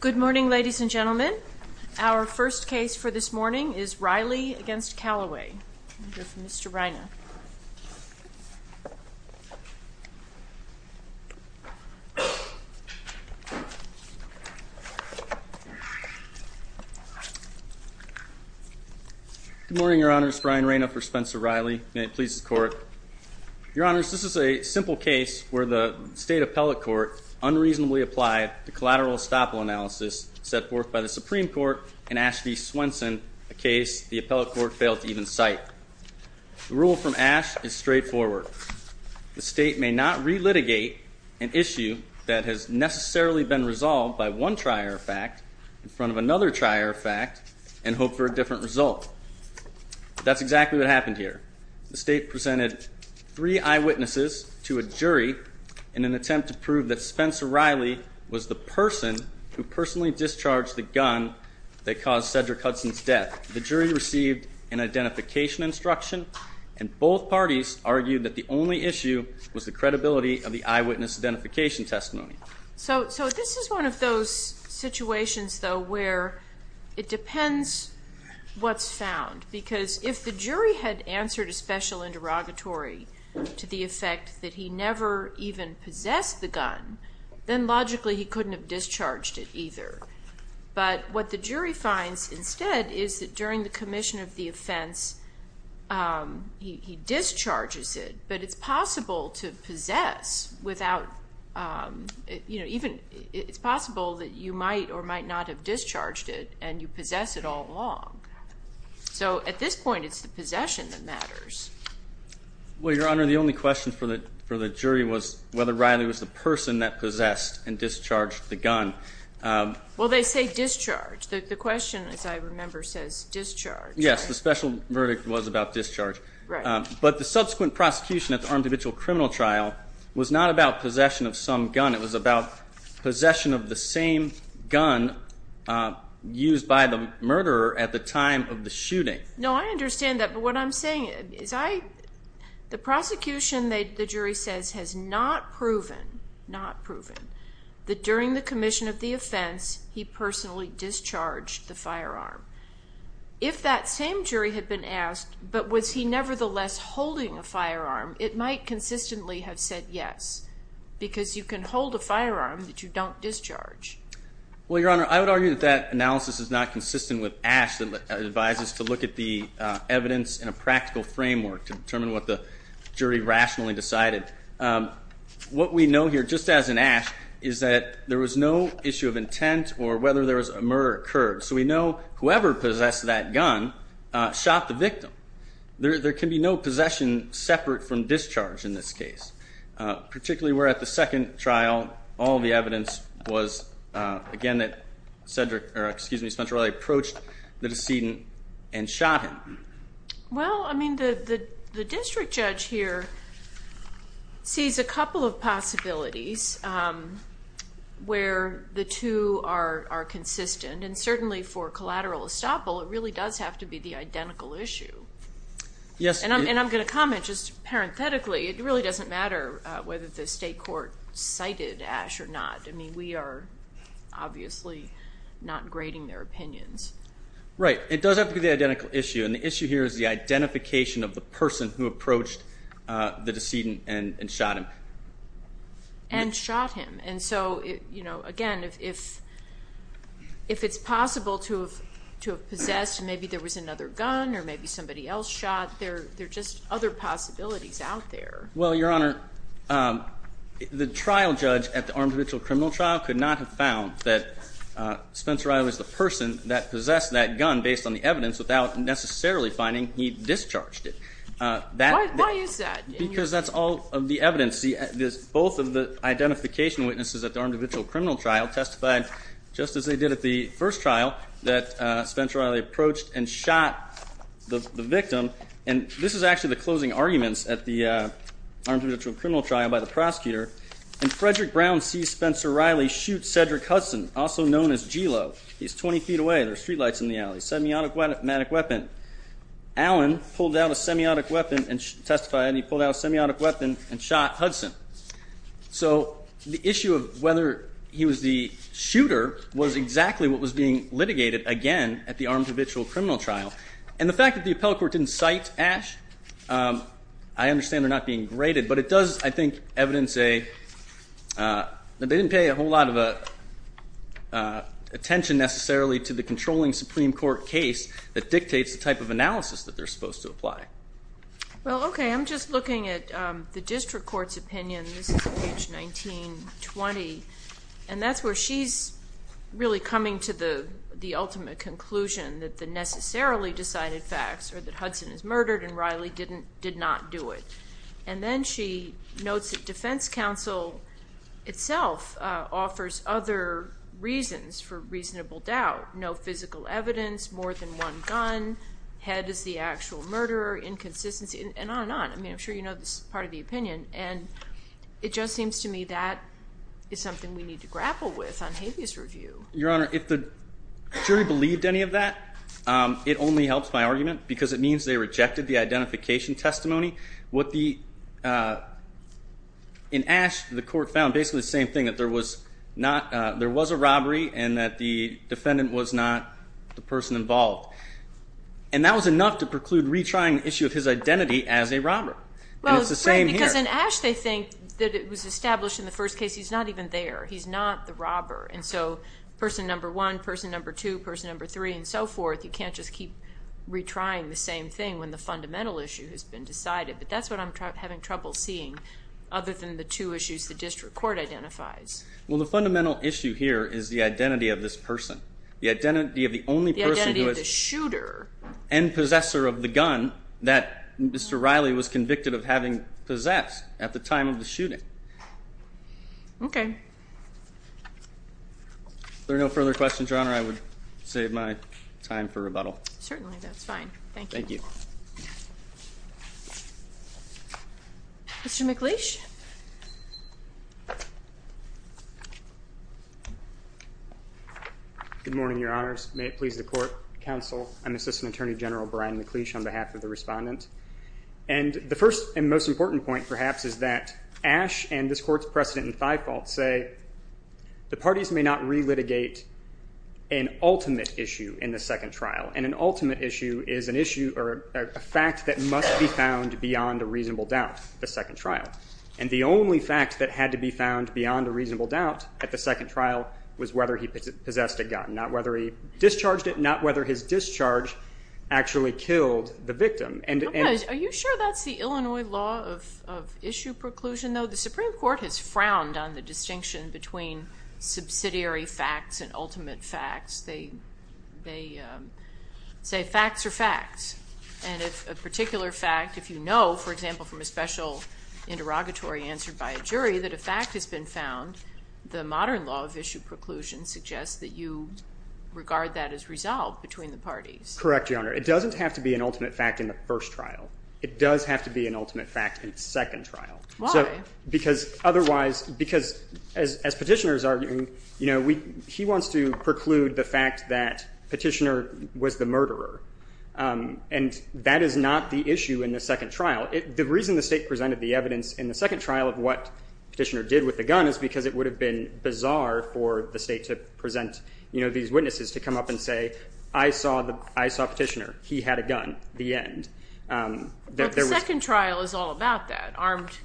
Good morning ladies and gentlemen. Our first case for this morning is Riley against Calloway. Mr. Raina. Good morning, Your Honors. Brian Raina for Spencer Riley. May it please the Court. Your Honors, this is a State Appellate Court unreasonably applied to collateral estoppel analysis set forth by the Supreme Court in Ash v. Swenson, a case the Appellate Court failed to even cite. The rule from Ash is straightforward. The State may not re-litigate an issue that has necessarily been resolved by one trier of fact in front of another trier of fact and hope for a different result. That's exactly what happened here. The State presented three eyewitnesses to a jury in an attempt to prove that Spencer Riley was the person who personally discharged the gun that caused Cedric Hudson's death. The jury received an identification instruction and both parties argued that the only issue was the credibility of the eyewitness identification testimony. So this is one of those situations though where it depends what's found because if the jury had answered a special interrogatory to the effect that he never even possessed the gun then logically he couldn't have discharged it either. But what the jury finds instead is that during the commission of the offense he discharges it but it's possible to possess without, you know, even it's possible that you might or might not have discharged it and you possess it all along. So at this point it's the possession that Well your honor the only question for the jury was whether Riley was the person that possessed and discharged the gun. Well they say discharge the question as I remember says discharge. Yes the special verdict was about discharge. But the subsequent prosecution at the armed habitual criminal trial was not about possession of some gun it was about possession of the same gun used by the murderer at the time of the shooting. No I understand that but what I'm saying is I, the prosecution the jury says has not proven, not proven, that during the commission of the offense he personally discharged the firearm. If that same jury had been asked but was he nevertheless holding a firearm it might consistently have said yes. Because you can hold a firearm that you don't discharge. Well your honor I would argue that that analysis is not consistent with Ash that advises to look at the evidence in a practical framework to determine what the jury rationally decided. What we know here just as in Ash is that there was no issue of intent or whether there was a murder occurred so we know whoever possessed that gun shot the victim. There can be no possession separate from discharge in this case. Particularly where at the second trial all the evidence was again that Spencer Riley approached the decedent and shot him. Well I mean the district judge here sees a couple of possibilities where the two are consistent and certainly for collateral estoppel it really does have to be the identical issue. And I'm going to comment just parenthetically it really doesn't matter whether the state court cited Ash or not. I mean we are obviously not grading their opinions. Right it does have to be the identical issue and the issue here is the identification of the person who approached the decedent and shot him. And shot him and so you know again if it's possible to have possessed maybe there was another gun or maybe somebody else shot there are just other possibilities out there. Well your honor the trial judge at the Arms of Mitchell criminal trial could not have found that Spencer Riley was the person that possessed that gun based on the evidence without necessarily finding he discharged it. Why is that? Because that's all of the evidence both of the identification witnesses at the Arms of Mitchell criminal trial testified just as they did at the first trial that Spencer Riley approached and shot the victim and this is actually the closing arguments at the Arms of Mitchell criminal trial by the prosecutor. And Frederick Brown sees Spencer Riley shoot Cedric Hudson also known as Gelo. He's 20 feet away there's street lights in the alley. Semiotic weapon. Allen pulled out a semiotic weapon and testified he pulled out a semiotic weapon and shot Hudson. So the issue of whether he was the shooter was exactly what was being litigated again at the Arms of Mitchell criminal trial. And the fact that the appellate court didn't cite Ash I understand they're not being graded but it does I think evidence a they didn't pay a whole lot of attention necessarily to the controlling Supreme Court case that dictates the type of analysis that they're supposed to apply. Well okay I'm just looking at the district court's opinion this is page 1920 and that's where she's really coming to the ultimate conclusion that the necessarily decided facts or that Hudson is murdered and Riley did not do it. And then she notes that defense counsel itself offers other reasons for reasonable doubt. No physical evidence, more than one gun, head is the actual murderer, inconsistency and on and on. I mean I'm sure you know this is part of the opinion and it just seems to me that is something we need to grapple with on habeas review. Your Honor if the they rejected the identification testimony. In Ash the court found basically the same thing that there was a robbery and that the defendant was not the person involved. And that was enough to preclude retrying the issue of his identity as a robber. Well it's great because in Ash they think that it was established in the first case he's not even there, he's not the robber. And so person number one, person number two, person number three and so forth you can't just keep retrying the same thing when the fundamental issue has been decided. But that's what I'm having trouble seeing other than the two issues the district court identifies. Well the fundamental issue here is the identity of this person. The identity of the only person. The identity of the shooter. And possessor of the gun that Mr. Riley was convicted of having possessed at the time of the shooting. Okay. If there are no further questions Your Honor I would save my time for rebuttal. Certainly that's fine. Thank you. Mr. McLeish. Good morning Your Honors. May it please the court, counsel and assistant attorney general Brian McLeish on behalf of the respondent. And the first and most important point perhaps is that Ash and this court's precedent in Thiefault say the parties may not relitigate an ultimate issue in the second trial. And an ultimate issue is an issue or a fact that must be found beyond a reasonable doubt at the second trial. And the only fact that had to be found beyond a reasonable doubt at the second trial was whether he possessed a gun. Not whether he discharged it. Not whether his discharge actually killed the victim. Are you sure that's the Illinois law of issue preclusion though? The Supreme Court has frowned on the distinction between subsidiary facts and ultimate facts. They say facts are facts. And if a particular fact, if you know for example from a special interrogatory answered by a jury that a fact has been found, the modern law of issue preclusion suggests that you regard that as resolved between the parties. Correct Your Honor. It doesn't have to be an ultimate fact in the first trial. It does have to be an ultimate fact in the second trial. Why? Because otherwise, because as Petitioner is arguing, he wants to preclude the fact that Petitioner was the murderer. And that is not the issue in the second trial. The reason the State presented the evidence in the second trial of what Petitioner did with the gun is because it would have been bizarre for the State to present these witnesses to come up and say, I saw Petitioner. He had a gun. The end. But the second trial is all about that.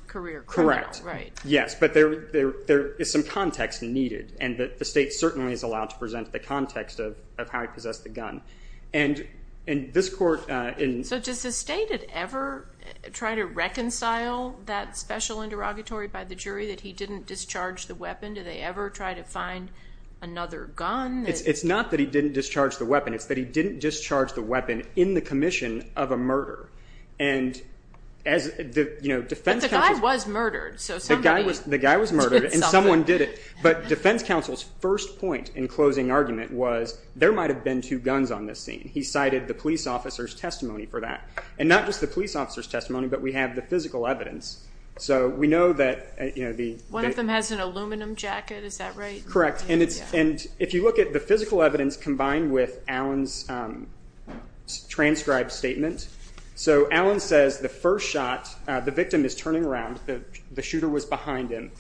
Correct. Yes, but there is some context needed. And the State certainly is allowed to present the context of how he possessed the gun. And this Court... So does the State ever try to reconcile that special interrogatory by the jury that he didn't discharge the weapon? Do they ever try to find another gun? It's not that he didn't discharge the weapon. It's that he didn't discharge the weapon in the commission of a murder. But the guy was murdered. The guy was murdered and someone did it. But defense counsel's first point in closing argument was, there might have been two guns on this scene. He cited the police officer's testimony for that. And not just the police officer's testimony, but we have the physical evidence. One of them has an aluminum jacket, is that right? Correct. And if you look at the physical evidence combined with Allen's transcribed statement. So Allen says the first shot, the victim is turning around. The shooter was behind him.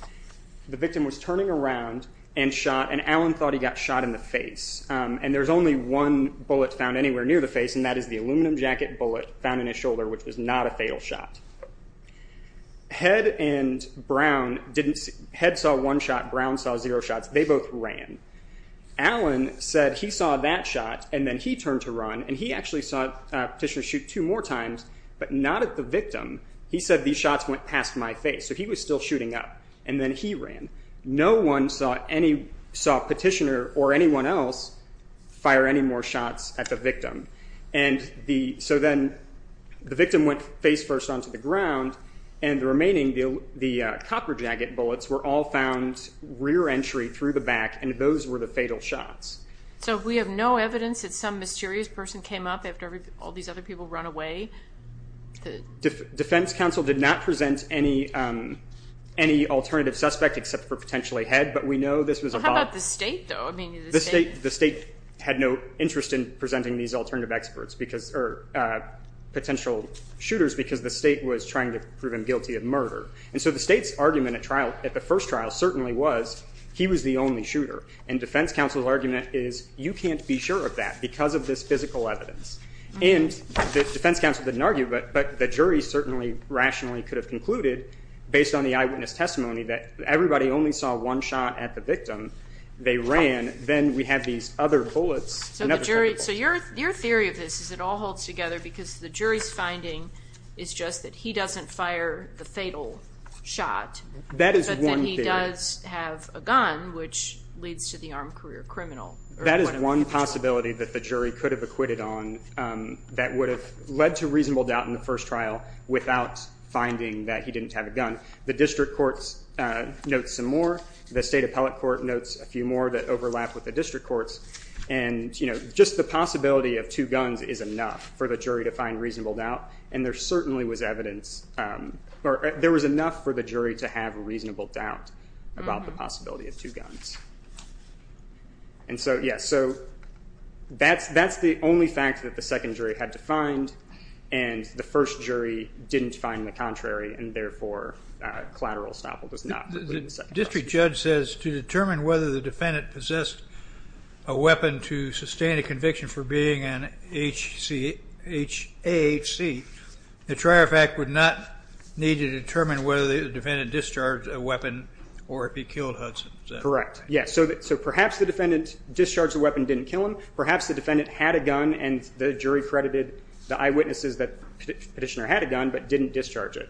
The victim was turning around and shot. And Allen thought he got shot in the face. And there's only one bullet found anywhere near the face and that is the aluminum jacket bullet found in his shoulder, which was not a fatal shot. Head and Brown didn't... Head saw one shot. Brown saw zero shots. They both ran. Allen said he saw that shot and then he turned to run and he actually saw Petitioner shoot two more times, but not at the victim. He said these shots went past my face. So he was still shooting up. And then he ran. No one saw Petitioner or anyone else fire any more shots at the victim. So then the victim went face first onto the ground and the remaining, the copper jacket bullets, were all found rear entry through the back and those were the fatal shots. So we have no evidence that some mysterious person came up after all these other people ran away? Defense counsel did not present any alternative suspect except for potentially Head, but we know this was about... How about the State though? The State had no interest in presenting these alternative experts or potential shooters because the State was trying to prove him guilty of murder. And so the State's argument at the first trial certainly was he was the only shooter. And defense counsel's argument is you can't be sure of that because of this physical evidence. And defense counsel didn't argue, but the jury certainly rationally could have concluded based on the eyewitness testimony that everybody only saw one shot at the victim. They ran. Then we have these other bullets. So your theory of this is it all holds together because the jury's finding is just that he doesn't fire the fatal shot. That is one theory. But then he does have a gun, which leads to the armed career criminal. That is one possibility that the jury could have acquitted on that would have led to reasonable doubt in the first trial without finding that he didn't have a gun. The district courts note some more. The State appellate court notes a few more that overlap with the district courts. And just the possibility of two guns is enough for the jury to find reasonable doubt. And there certainly was evidence... There was enough for the jury to have a reasonable doubt about the possibility of two guns. And so, yeah. So that's the only fact that the second jury had to find. And the first jury didn't find the contrary. And therefore, collateral estoppel does not include the second jury. The district judge says to determine whether the defendant possessed a weapon to sustain a conviction for being an HAHC, the Trier fact would not need to determine whether the defendant discharged a weapon or if he killed Hudson. Correct. Yes. So perhaps the defendant discharged a weapon and didn't kill him. Perhaps the defendant had a gun and the jury credited the eyewitnesses that the petitioner had a gun but didn't discharge it.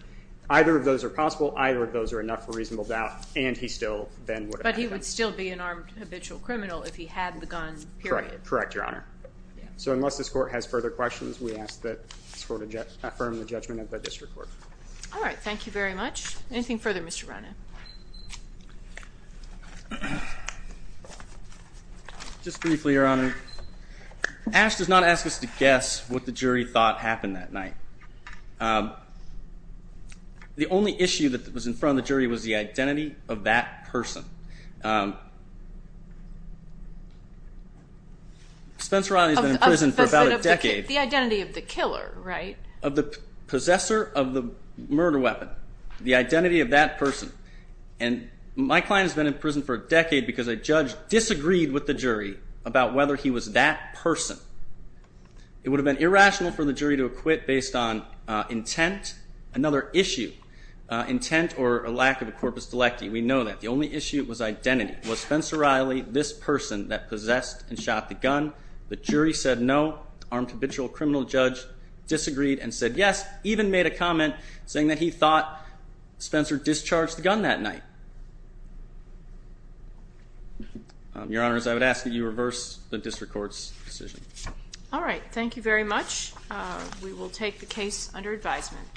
Either of those are possible. Either of those are enough for reasonable doubt. And he still then... But he would still be an armed habitual criminal if he had the gun, period. Correct, Your Honor. So unless this court has further questions, we ask that this court affirm the judgment of the district court. All right. Thank you very much. Anything further, Mr. Rana? Just briefly, Your Honor. Ash does not ask us to guess what the jury thought happened that night. The only issue that was in front of the jury was the identity of that person. Spencer Rana has been in prison for about a decade. The identity of the killer, right? Of the possessor of the murder weapon. The identity of that person. My client has been in prison for a decade because a judge disagreed with the jury about whether he was that person. It would have been irrational for the jury to acquit based on intent. Another issue. Intent or a lack of a corpus delecti. We know that. The only issue was identity. Was Spencer Riley this person that possessed and shot the gun? The jury said no. Armed habitual criminal judge disagreed and said yes. Even made a comment saying that he thought Spencer discharged the gun that night. Your Honor, I would ask that you reverse the district court's decision. All right. Thank you very much. We will take the case under advisement.